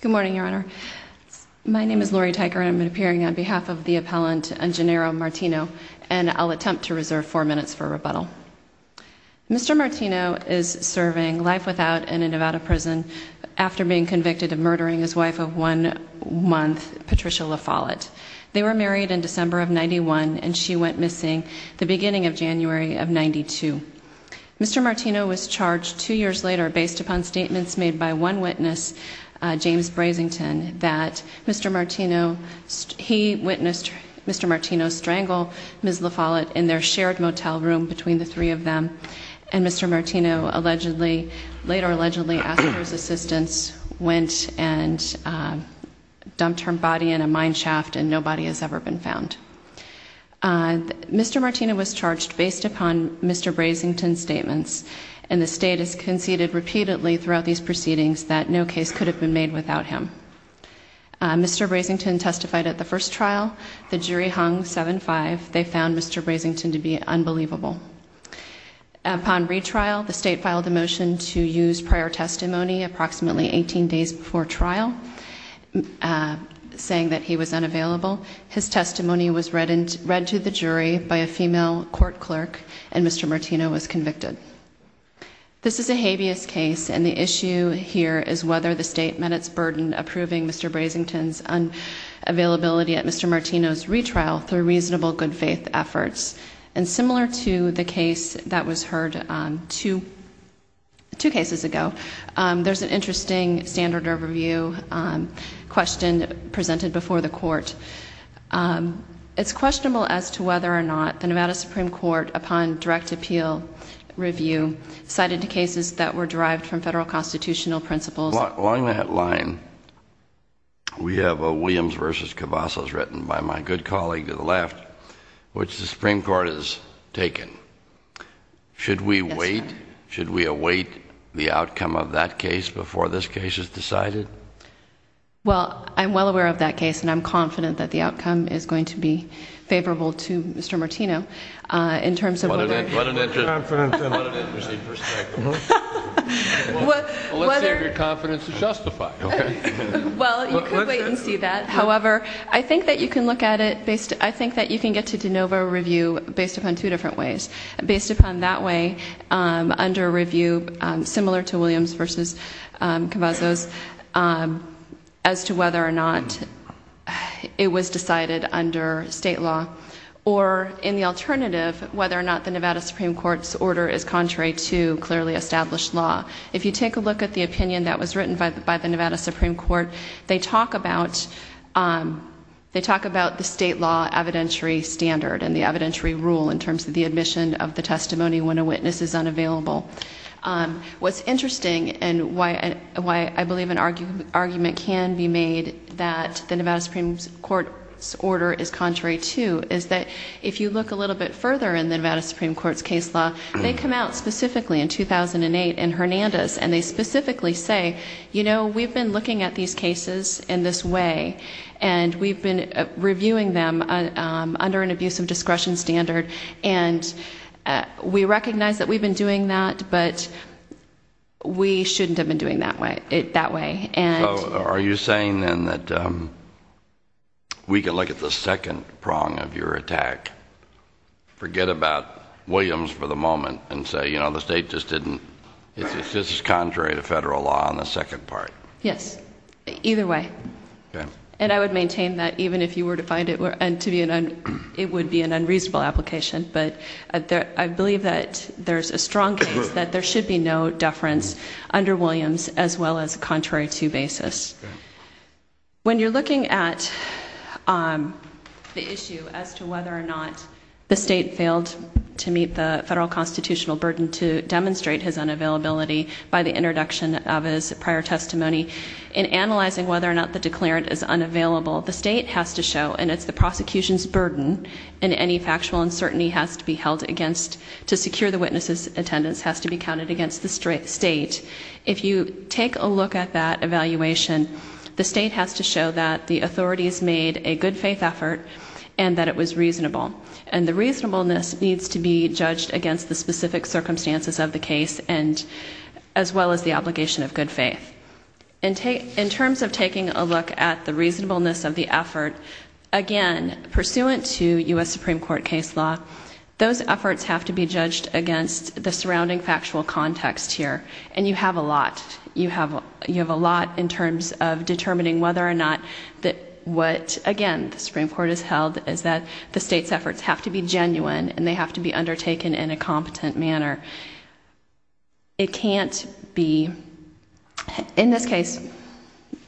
Good morning, Your Honor. My name is Lori Tyker, and I'm appearing on behalf of the appellant Engenaro Martino, and I'll attempt to reserve four minutes for rebuttal. Mr. Martino is serving life without in a Nevada prison after being convicted of murdering his wife of one month, Patricia La Follette. They were married in December of 91, and she went missing the beginning of January of 92. Mr. Martino was charged two years later based upon statements made by one witness, James Brasington, that Mr. Martino, he witnessed Mr. Martino strangle Ms. La Follette in their shared motel room between the three of them, and Mr. Martino later allegedly asked for his assistance, went and dumped her body in a mine shaft, and no body has ever been found. Mr. Martino was charged based upon Mr. Brasington's statements, and the state has conceded repeatedly throughout these proceedings that no case could have been made without him. Mr. Brasington testified at the first trial. The jury hung 7-5. They found Mr. Brasington to be unbelievable. Upon retrial, the state filed a motion to use prior testimony approximately 18 days before trial, saying that he was unavailable. His testimony was read to the jury by a female court clerk, and Mr. Martino was convicted. This is a habeas case, and the issue here is whether the state met its burden approving Mr. Brasington's availability at Mr. Martino's retrial through reasonable good faith efforts, and similar to the case that was heard two cases ago, there's an interesting standard of review question presented before the court. It's questionable as to whether or not the Nevada Supreme Court, upon direct appeal review, cited cases that were derived from federal constitutional principles. Along that line, we have a Williams v. Cavazos written by my good colleague to the left, which the Supreme Court has taken. Should we wait? Should we await the outcome of that case before this case is decided? Well, I'm well aware of that case, and I'm confident that the outcome is going to be favorable to Mr. Martino. What an interesting perspective. Let's see if your confidence is justified. Well, you could wait and see that. However, I think that you can look at it, I think that you can get to de novo review based upon two different ways. Based upon that way, under review, similar to Williams v. Cavazos, as to whether or not it was decided under state law, or in the alternative, whether or not the Nevada Supreme Court's order is contrary to clearly established law. If you take a look at the opinion that was written by the Nevada Supreme Court, they talk about the state law evidentiary standard and the evidentiary rule in terms of the admission of the testimony when a witness is unavailable. What's interesting, and why I believe an argument can be made that the Nevada Supreme Court's order is contrary to, is that if you look a little bit further in the Nevada Supreme Court's case law, they come out specifically in 2008 in Hernandez, and they specifically say, you know, we've been looking at these cases in this way, and we've been reviewing them under an abuse of discretion standard, and we recognize that we've been doing that, but we shouldn't have been doing it that way. So are you saying, then, that we could look at the second prong of your attack, forget about Williams for the moment, and say, you know, the state just didn't, it's just contrary to federal law on the second part? Yes, either way. And I would maintain that even if you were to find it would be an unreasonable application, but I believe that there's a strong case that there should be no deference under Williams as well as contrary to basis. When you're looking at the issue as to whether or not the state failed to meet the federal constitutional burden to demonstrate his unavailability by the introduction of his prior testimony, in analyzing whether or not the declarant is unavailable, the state has to show, and it's the prosecution's burden, and any factual uncertainty has to be held against, to secure the witness's attendance has to be counted against the state. If you take a look at that evaluation, the state has to show that the authorities made a good faith effort and that it was reasonable, and the reasonableness needs to be judged against the specific circumstances of the case as well as the obligation of good faith. In terms of taking a look at the reasonableness of the effort, again, pursuant to U.S. Supreme Court case law, those efforts have to be judged against the surrounding factual context here, and you have a lot. You have a lot in terms of determining whether or not what, again, the Supreme Court has held, is that the state's efforts have to be genuine and they have to be undertaken in a competent manner. It can't be... In this case,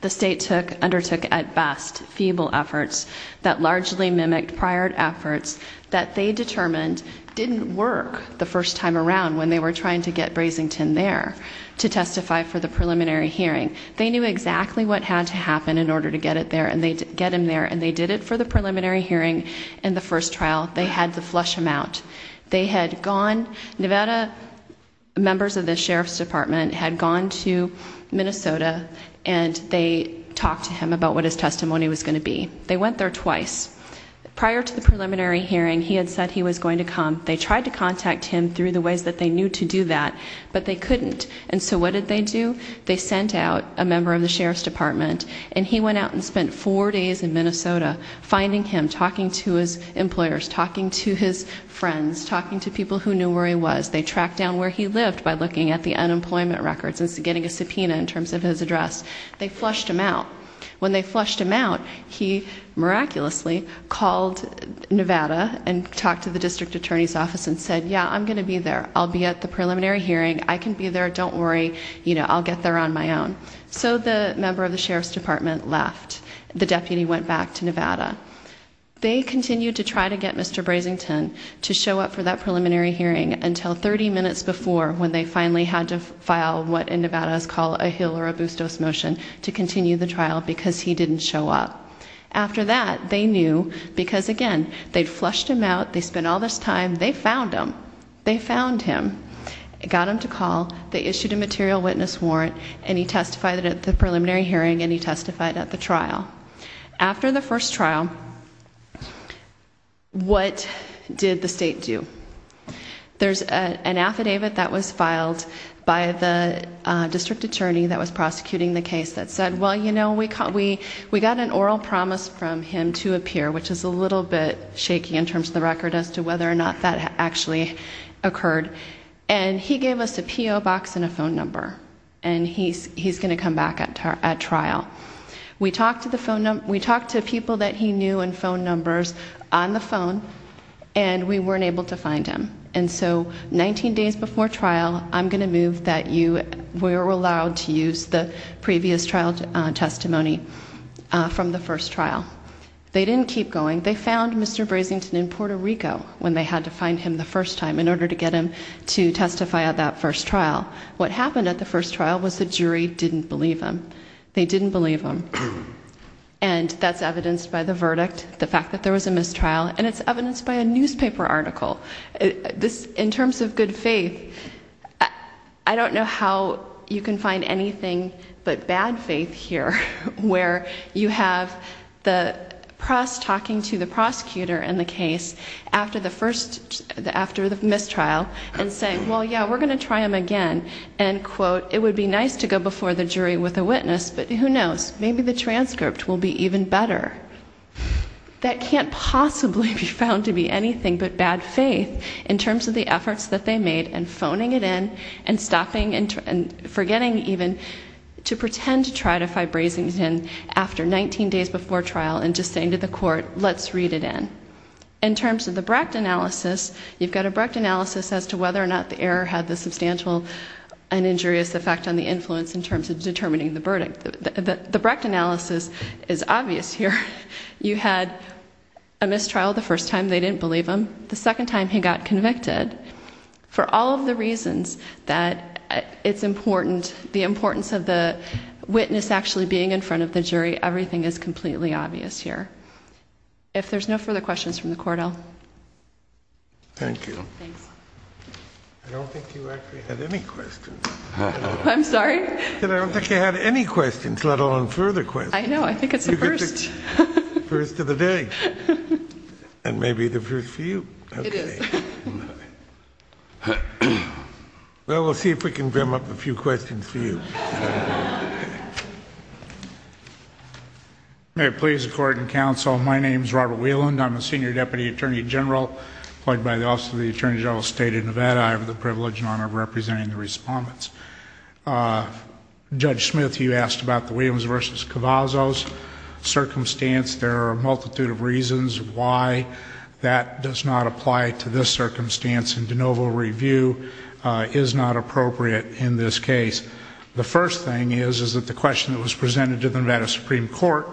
the state undertook, at best, feeble efforts that largely mimicked prior efforts that they determined didn't work the first time around when they were trying to get Brasington there to testify for the preliminary hearing. They knew exactly what had to happen in order to get him there, and they did it for the preliminary hearing in the first trial. They had the flush him out. They had gone... Nevada members of the Sheriff's Department had gone to Minnesota, and they talked to him about what his testimony was going to be. They went there twice. Prior to the preliminary hearing, he had said he was going to come. They tried to contact him through the ways that they knew to do that, but they couldn't. And so what did they do? They sent out a member of the Sheriff's Department, and he went out and spent four days in Minnesota finding him, talking to his employers, talking to his friends, talking to people who knew where he was. They tracked down where he lived by looking at the unemployment records and getting a subpoena in terms of his address. They flushed him out. When they flushed him out, he miraculously called Nevada and talked to the district attorney's office and said, yeah, I'm going to be there. I'll be at the preliminary hearing. I can be there. Don't worry. I'll get there on my own. So the member of the Sheriff's Department left. The deputy went back to Nevada. They continued to try to get Mr. Brasington to show up for that preliminary hearing until 30 minutes before when they finally had to file what in Nevada is called a Hill or a Bustos motion to continue the trial because he didn't show up. After that, they knew because, again, they'd flushed him out. They spent all this time. They found him. They found him. They got him to call. They issued a material witness warrant, and he testified at the preliminary hearing and he testified at the trial. After the first trial, what did the state do? There's an affidavit that was filed by the district attorney that was prosecuting the case that said, well, you know, we got an oral promise from him to appear, which is a little bit shaky in terms of the record as to whether or not that actually occurred, and he gave us a P.O. box and a phone number, and he's going to come back at trial. We talked to people that he knew and phone numbers on the phone, and we weren't able to find him. And so 19 days before trial, I'm going to move that you were allowed to use the previous trial testimony from the first trial. They didn't keep going. They found Mr. Brasington in Puerto Rico when they had to find him the first time in order to get him to testify at that first trial. What happened at the first trial was the jury didn't believe him. They didn't believe him, and that's evidenced by the verdict, the fact that there was a mistrial, and it's evidenced by a newspaper article. In terms of good faith, I don't know how you can find anything but bad faith here, where you have the press talking to the prosecutor in the case after the mistrial and saying, well, yeah, we're going to try him again, and, quote, it would be nice to go before the jury with a witness, but who knows? Maybe the transcript will be even better. That can't possibly be found to be anything but bad faith in terms of the efforts that they made and phoning it in and stopping and forgetting even to pretend to try to find Brasington after 19 days before trial and just saying to the court, let's read it in. In terms of the Brecht analysis, you've got a Brecht analysis as to whether or not the error had the substantial and injurious effect on the influence in terms of determining the verdict. The Brecht analysis is obvious here. You had a mistrial the first time. They didn't believe him. The second time he got convicted, for all of the reasons that it's important, the importance of the witness actually being in front of the jury, everything is completely obvious here. If there's no further questions from the court, I'll... Thank you. Thanks. I don't think you actually had any questions. I'm sorry? I don't think you had any questions, let alone further questions. I know, I think it's a first. First of the day. And maybe the first for you. It is. Well, we'll see if we can brim up a few questions for you. May it please the Court and Counsel, my name is Robert Wieland. I'm a Senior Deputy Attorney General employed by the Office of the Attorney General of the State of Nevada. I have the privilege and honor of representing the respondents. Judge Smith, you asked about the Williams v. Cavazos circumstance. There are a multitude of reasons why that does not apply to this circumstance, and de novo review is not appropriate in this case. The first thing is that the question that was presented to the Nevada Supreme Court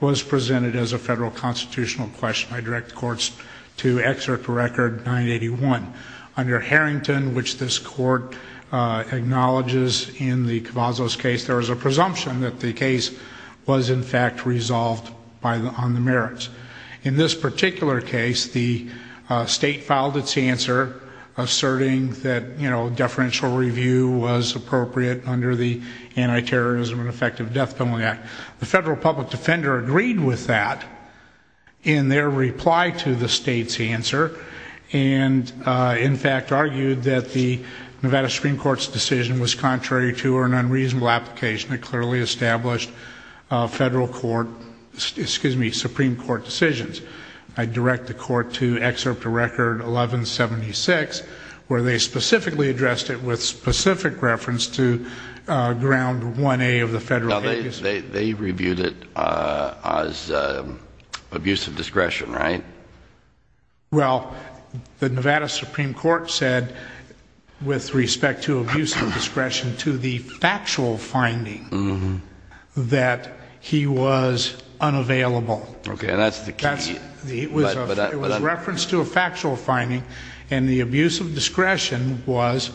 was presented as a federal constitutional question. I direct the courts to excerpt record 981. Under Harrington, which this court acknowledges in the Cavazos case, there is a presumption that the case was in fact resolved on the merits. In this particular case, the state filed its answer asserting that deferential review was appropriate under the Anti-Terrorism and Effective Death Penalty Act. The federal public defender agreed with that in their reply to the state's answer and in fact argued that the Nevada Supreme Court's decision was contrary to or an unreasonable application that clearly established federal court, excuse me, Supreme Court decisions. I direct the court to excerpt to record 1176, where they specifically addressed it with specific reference to ground 1A of the federal case. They reviewed it as abuse of discretion, right? Well, the Nevada Supreme Court said, with respect to abuse of discretion, to the factual finding that he was unavailable. Okay, and that's the key. It was referenced to a factual finding and the abuse of discretion was,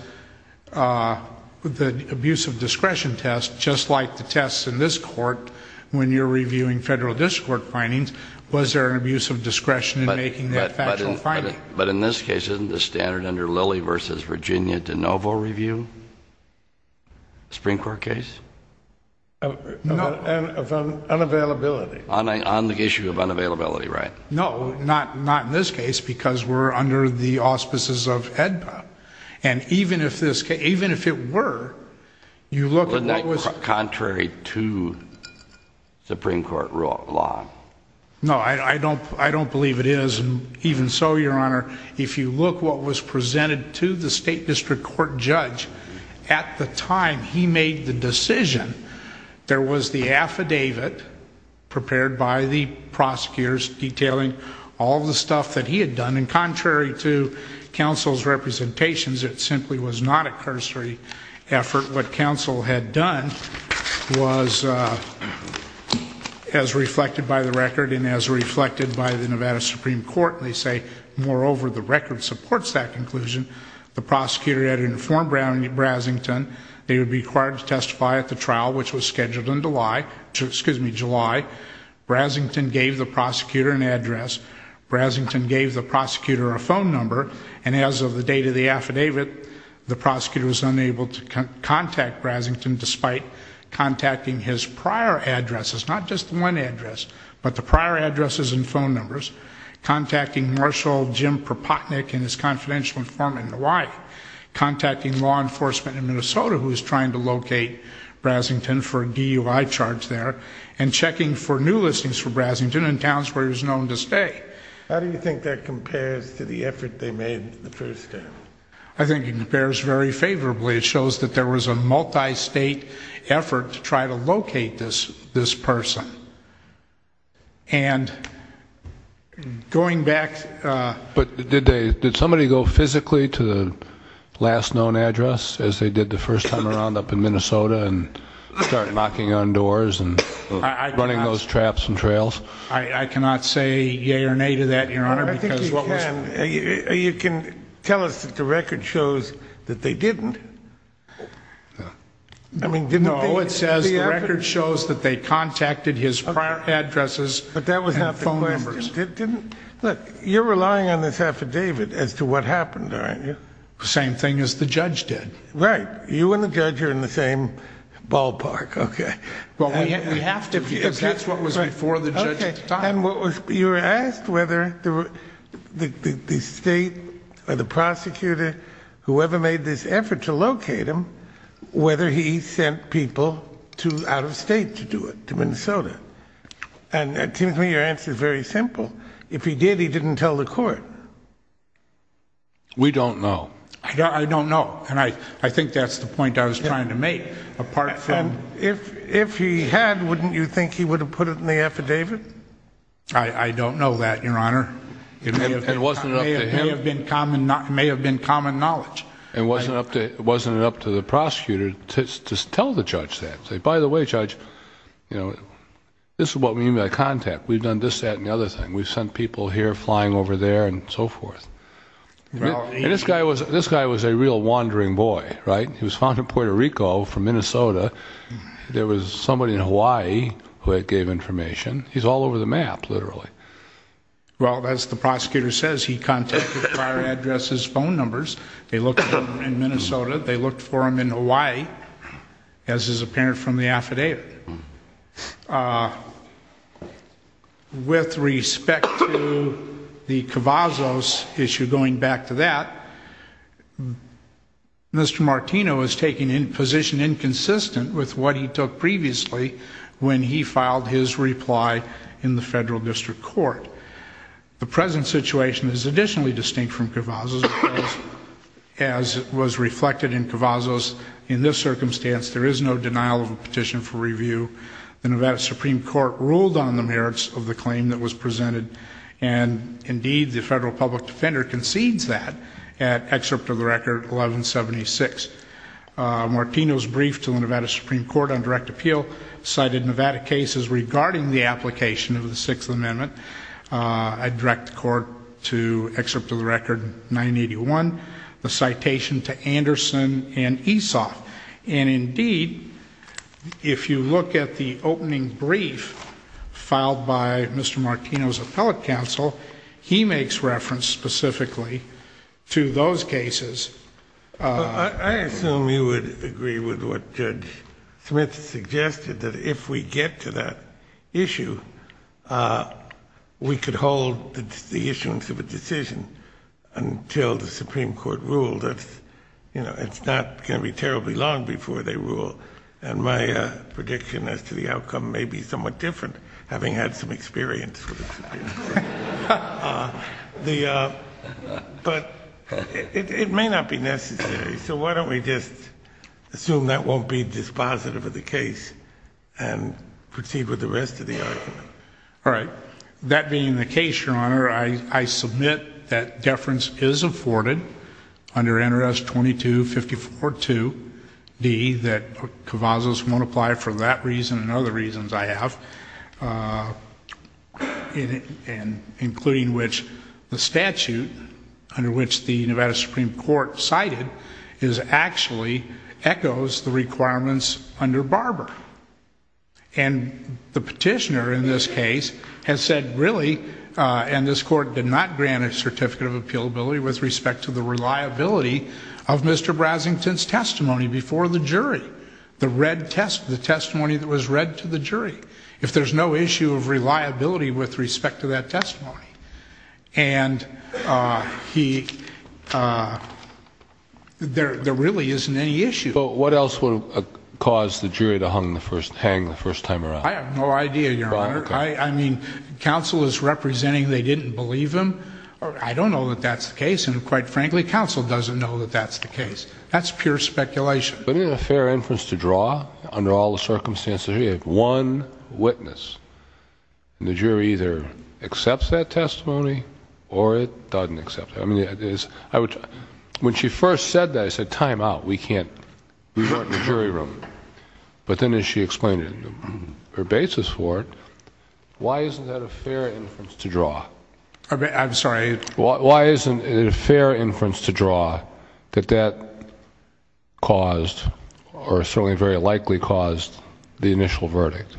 the abuse of discretion test, just like the tests in this court, when you're reviewing federal district court findings, was there an abuse of discretion in making that factual finding? But in this case, isn't the standard under Lilly v. Virginia de novo review? Supreme Court case? No. Of unavailability. On the issue of unavailability, right? No, not in this case because we're under the auspices of HEDPA. And even if it were, you look at what was... Supreme Court law. No, I don't believe it is, and even so, Your Honor, if you look what was presented to the state district court judge, at the time he made the decision, there was the affidavit prepared by the prosecutors detailing all the stuff that he had done, and contrary to counsel's representations, it simply was not a cursory effort. What counsel had done was, as reflected by the record and as reflected by the Nevada Supreme Court, they say, moreover, the record supports that conclusion. The prosecutor had informed Brasington they would be required to testify at the trial, which was scheduled in July. Brasington gave the prosecutor an address. Brasington gave the prosecutor a phone number. And as of the date of the affidavit, the prosecutor was unable to contact Brasington despite contacting his prior addresses, not just one address, but the prior addresses and phone numbers, contacting Marshal Jim Propotnick and his confidential informant in Hawaii, contacting law enforcement in Minnesota, who was trying to locate Brasington for a DUI charge there, and checking for new listings for Brasington in towns where he was known to stay. How do you think that compares to the effort they made the first day? I think it compares very favorably. It shows that there was a multi-state effort to try to locate this person. And going back... But did somebody go physically to the last known address, as they did the first time around up in Minnesota, and start knocking on doors and running those traps and trails? I cannot say yea or nay to that, Your Honor. I think you can. You can tell us that the record shows that they didn't. No, it says the record shows that they contacted his prior addresses and phone numbers. Look, you're relying on this affidavit as to what happened, aren't you? The same thing as the judge did. Right. You and the judge are in the same ballpark. We have to, because that's what was before the judge's time. And you were asked whether the state or the prosecutor, whoever made this effort to locate him, whether he sent people out of state to do it, to Minnesota. And it seems to me your answer is very simple. If he did, he didn't tell the court. We don't know. I don't know. And I think that's the point I was trying to make, apart from... If he had, wouldn't you think he would have put it in the affidavit? I don't know that, Your Honor. It may have been common knowledge. And wasn't it up to the prosecutor to tell the judge that? Say, by the way, Judge, this is what we mean by contact. We've done this, that, and the other thing. We've sent people here flying over there and so forth. And this guy was a real wandering boy, right? He was found in Puerto Rico from Minnesota. There was somebody in Hawaii who had gave information. He's all over the map, literally. Well, as the prosecutor says, he contacted prior addresses, phone numbers. They looked for him in Minnesota. They looked for him in Hawaii, as is apparent from the affidavit. With respect to the Cavazos issue, going back to that, Mr. Martino is taking a position inconsistent with what he took previously when he filed his reply in the federal district court. The present situation is additionally distinct from Cavazos, as was reflected in Cavazos. In this circumstance, there is no denial of a petition for review. The Nevada Supreme Court ruled on the merits of the claim that was presented, and, indeed, the federal public defender concedes that at Excerpt of the Record 1176. Martino's brief to the Nevada Supreme Court on direct appeal cited Nevada cases regarding the application of the Sixth Amendment. I direct the Court to Excerpt of the Record 981, the citation to Anderson and Esau. And, indeed, if you look at the opening brief filed by Mr. Martino's appellate counsel, he makes reference specifically to those cases. I assume you would agree with what Judge Smith suggested, that if we get to that issue, we could hold the issuance of a decision until the Supreme Court ruled. It's not going to be terribly long before they rule, and my prediction as to the outcome may be somewhat different, having had some experience with the Supreme Court. But it may not be necessary, so why don't we just assume that won't be dispositive of the case and proceed with the rest of the argument. All right. That being the case, Your Honor, I submit that deference is afforded under NRS 2254.2d, that Kavazos won't apply for that reason and other reasons I have, including which the statute under which the Nevada Supreme Court cited actually echoes the requirements under Barber. And the petitioner in this case has said, really, and this Court did not grant a certificate of appealability with respect to the reliability of Mr. Brasington's testimony before the jury, the testimony that was read to the jury, if there's no issue of reliability with respect to that testimony. And there really isn't any issue. But what else would cause the jury to hang the first time around? I have no idea, Your Honor. I mean, counsel is representing they didn't believe him. I don't know that that's the case, and quite frankly counsel doesn't know that that's the case. That's pure speculation. But isn't it a fair inference to draw, under all the circumstances, if you have one witness, and the jury either accepts that testimony or it doesn't accept it? I mean, when she first said that, I said, time out. We can't resort to jury room. But then as she explained her basis for it, why isn't that a fair inference to draw? I'm sorry? Why isn't it a fair inference to draw that that caused or certainly very likely caused the initial verdict?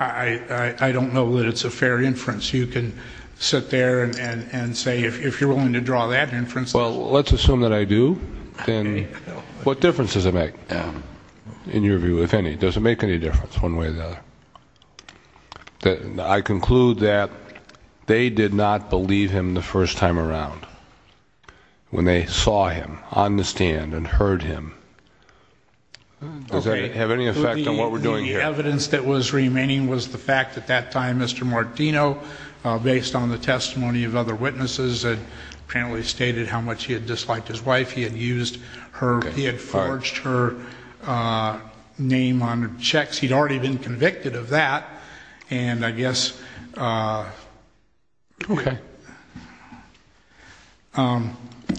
I don't know that it's a fair inference. You can sit there and say if you're willing to draw that inference. Well, let's assume that I do. Then what difference does it make in your view, if any? Does it make any difference one way or the other? I conclude that they did not believe him the first time around when they saw him on the stand and heard him. Does that have any effect on what we're doing here? The evidence that was remaining was the fact at that time Mr. Martino, based on the testimony of other witnesses, apparently stated how much he had disliked his wife. He had forged her name on checks. He'd already been convicted of that. And I guess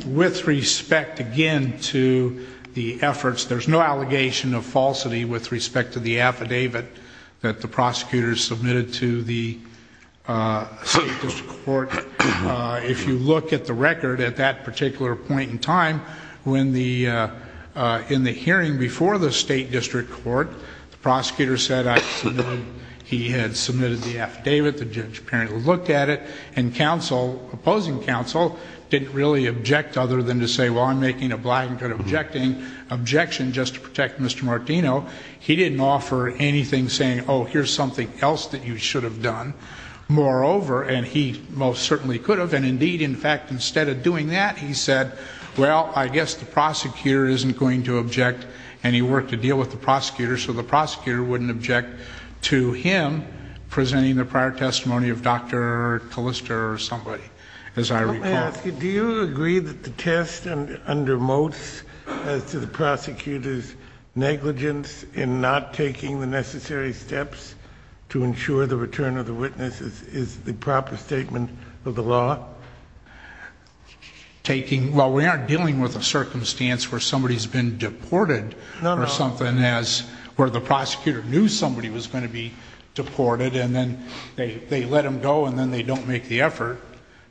with respect, again, to the efforts, there's no allegation of falsity with respect to the affidavit that the If you look at the record at that particular point in time, in the hearing before the state district court, the prosecutor said he had submitted the affidavit, the judge apparently looked at it, and opposing counsel didn't really object other than to say, well, I'm making a blatant objection just to protect Mr. Martino. He didn't offer anything saying, oh, here's something else that you should have done. Moreover, and he most certainly could have, and indeed, in fact, instead of doing that, he said, well, I guess the prosecutor isn't going to object, and he worked a deal with the prosecutor, so the prosecutor wouldn't object to him presenting the prior testimony of Dr. Callista or somebody, as I recall. Let me ask you, do you agree that the test under Moats, as to the prosecutor's negligence in not taking the necessary steps to ensure the return of the witness, is the proper statement of the law? Taking, well, we aren't dealing with a circumstance where somebody's been deported. No, no. Or something as where the prosecutor knew somebody was going to be deported, and then they let him go, and then they don't make the effort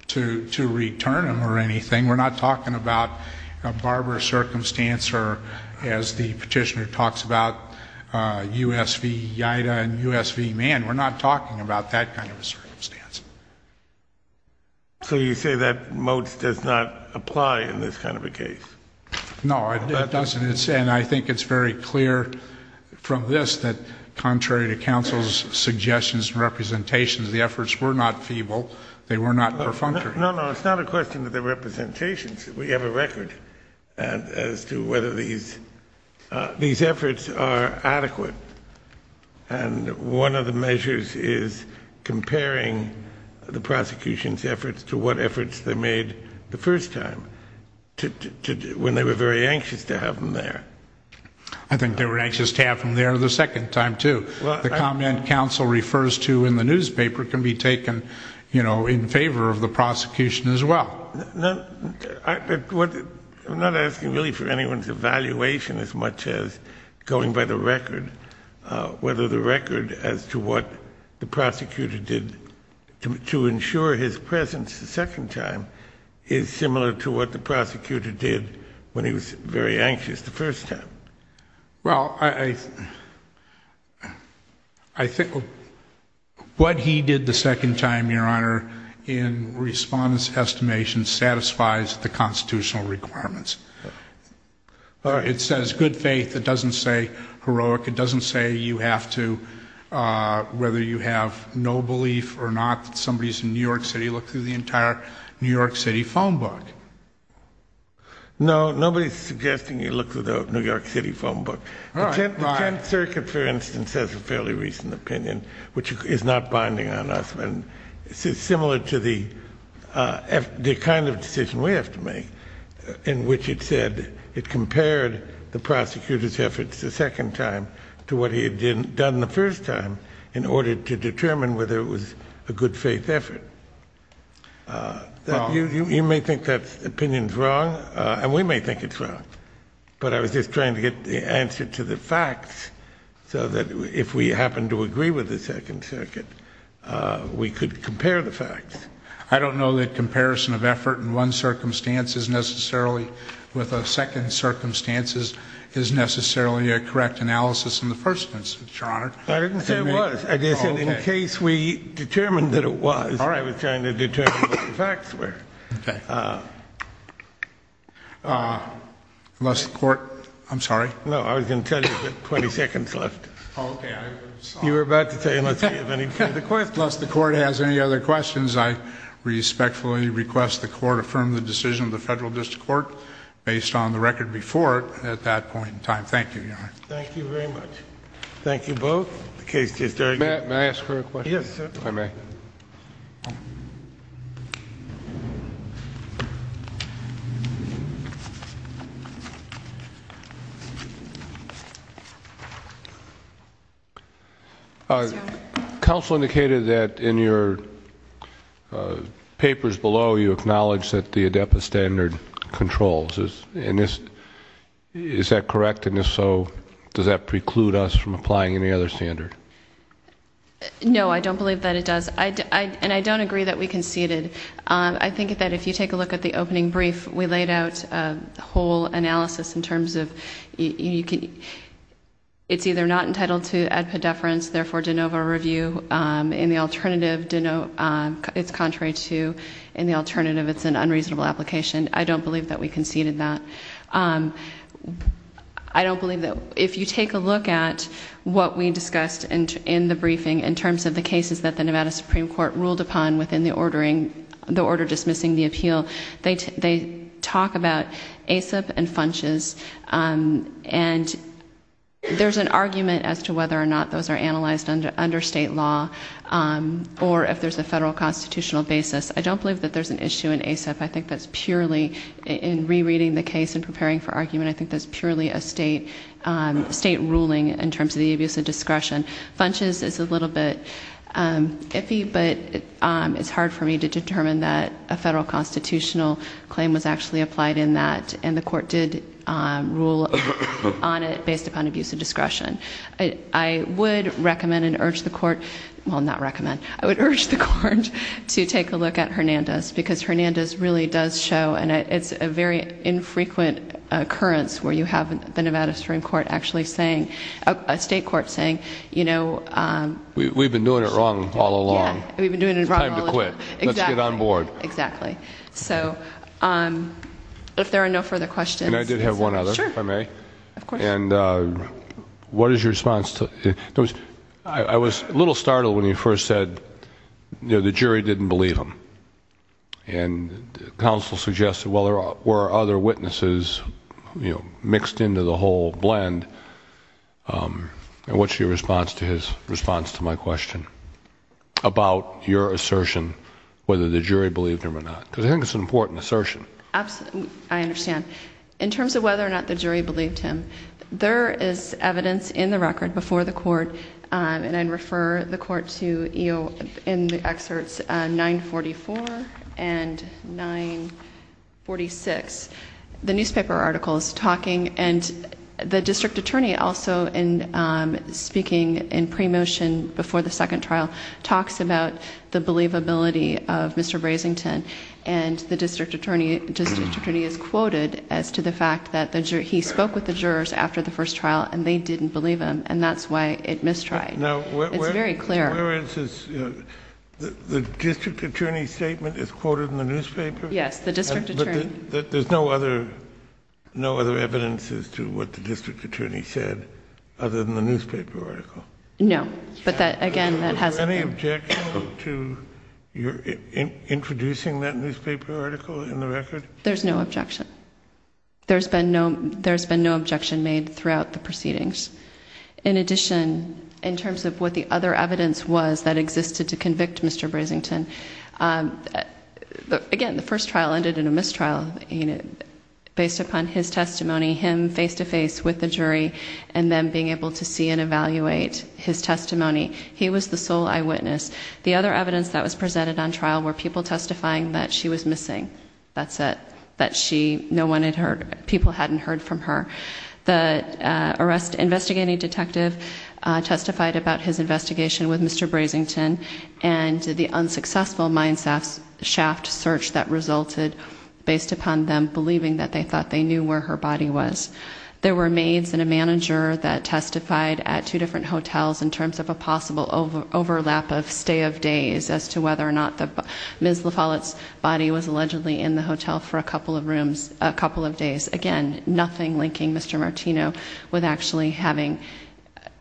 to return him or anything. We're not talking about a barber circumstance or, as the petitioner talks about, U.S. v. Ida and U.S. v. Mann. We're not talking about that kind of a circumstance. So you say that Moats does not apply in this kind of a case? No, it doesn't, and I think it's very clear from this that, contrary to counsel's suggestions and representations, the efforts were not feeble. They were not perfunctory. No, no, it's not a question of the representations. We have a record as to whether these efforts are adequate. And one of the measures is comparing the prosecution's efforts to what efforts they made the first time, when they were very anxious to have him there. I think they were anxious to have him there the second time, too. The comment counsel refers to in the newspaper can be taken, you know, in favor of the prosecution as well. Well, I'm not asking really for anyone's evaluation as much as going by the record, whether the record as to what the prosecutor did to ensure his presence the second time is similar to what the prosecutor did when he was very anxious the first time. Well, I think what he did the second time, Your Honor, in respondent's estimation satisfies the constitutional requirements. It says good faith. It doesn't say heroic. It doesn't say you have to, whether you have no belief or not that somebody is in New York City, look through the entire New York City phone book. No, nobody is suggesting you look through the New York City phone book. The Tenth Circuit, for instance, has a fairly recent opinion, which is not binding on us. It's similar to the kind of decision we have to make, in which it said it compared the prosecutor's efforts the second time to what he had done the first time in order to determine whether it was a good faith effort. You may think that opinion is wrong, and we may think it's wrong, but I was just trying to get the answer to the facts so that if we happen to agree with the Second Circuit, we could compare the facts. I don't know that comparison of effort in one circumstance necessarily with a second circumstance is necessarily a correct analysis in the First Circuit, Your Honor. I didn't say it was. I just said in case we determined that it was. All right. I was trying to determine what the facts were. Unless the Court, I'm sorry. No, I was going to tell you, but 20 seconds left. Oh, okay. You were about to say unless we have any further questions. Unless the Court has any other questions, I respectfully request the Court affirm the decision of the Federal District Court based on the record before it at that point in time. Thank you, Your Honor. Thank you very much. Thank you both. The case is adjourned. May I ask for a question? Yes, sir. If I may. Counsel indicated that in your papers below you acknowledge that the ADEPA standard controls. Is that correct? And if so, does that preclude us from applying any other standard? No, I don't believe that it does. And I don't agree that we conceded. I think that if you take a look at the opening brief, we laid out a whole analysis in terms of it's either not entitled to ADEPA deference, therefore de novo review. In the alternative, it's contrary to. In the alternative, it's an unreasonable application. I don't believe that we conceded that. I don't believe that. If you take a look at what we discussed in the briefing in terms of the cases that the Nevada Supreme Court ruled upon within the order dismissing the appeal, they talk about ASEP and FUNCHES. And there's an argument as to whether or not those are analyzed under state law or if there's a federal constitutional basis. I don't believe that there's an issue in ASEP. I think that's purely in rereading the case and preparing for argument. I think that's purely a state ruling in terms of the abuse of discretion. FUNCHES is a little bit iffy, but it's hard for me to determine that a federal constitutional claim was actually applied in that and the court did rule on it based upon abuse of discretion. I would recommend and urge the court, well not recommend, I would urge the court to take a look at Hernandez because Hernandez really does show, and it's a very infrequent occurrence where you have the Nevada Supreme Court actually saying, a state court saying, you know. We've been doing it wrong all along. Yeah, we've been doing it wrong all along. It's time to quit. Exactly. Let's get on board. Exactly. So, if there are no further questions. Can I just have one other? Sure. If I may. Of course. And what is your response to, I was a little startled when you first said, you know, the jury didn't believe him. And counsel suggested, well, there were other witnesses, you know, mixed into the whole blend. And what's your response to his response to my question about your assertion whether the jury believed him or not? Because I think it's an important assertion. I understand. In terms of whether or not the jury believed him, there is evidence in the record before the court, and I'd refer the court to in the excerpts 944 and 946. The newspaper article is talking, and the district attorney also, speaking in pre-motion before the second trial, talks about the believability of Mr. Brasington. And the district attorney is quoted as to the fact that he spoke with the jurors after the first trial, and they didn't believe him, and that's why it mistried. It's very clear. The district attorney's statement is quoted in the newspaper? Yes, the district attorney. But there's no other evidence as to what the district attorney said other than the newspaper article? No. But, again, that hasn't been. Is there an objection to introducing that newspaper article in the record? There's no objection. There's been no objection made throughout the proceedings. In addition, in terms of what the other evidence was that existed to convict Mr. Brasington, again, the first trial ended in a mistrial based upon his testimony, him face-to-face with the jury, and them being able to see and evaluate his testimony. He was the sole eyewitness. The other evidence that was presented on trial were people testifying that she was missing. That's it. That no one had heard. People hadn't heard from her. The investigating detective testified about his investigation with Mr. Brasington and the unsuccessful mine shaft search that resulted based upon them believing that they thought they knew where her body was. There were maids and a manager that testified at two different hotels in terms of a possible overlap of stay of days as to whether or not Ms. La Follette's body was allegedly in the hotel for a couple of days. Again, nothing linking Mr. Martino with actually having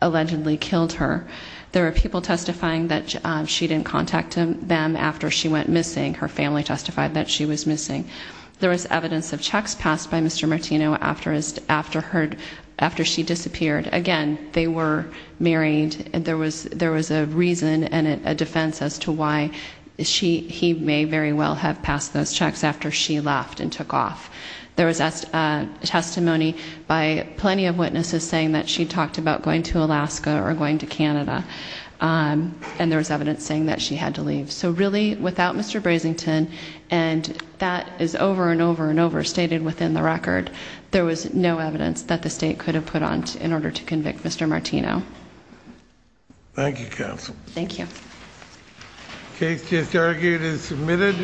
allegedly killed her. There were people testifying that she didn't contact them after she went missing. Her family testified that she was missing. There was evidence of checks passed by Mr. Martino after she disappeared. Again, they were married. There was a reason and a defense as to why he may very well have passed those checks after she left and took off. There was testimony by plenty of witnesses saying that she talked about going to Alaska or going to Canada, and there was evidence saying that she had to leave. So really, without Mr. Brasington, and that is over and over and over stated within the record, there was no evidence that the state could have put on in order to convict Mr. Martino. Thank you, Counsel. Thank you. The case is now submitted.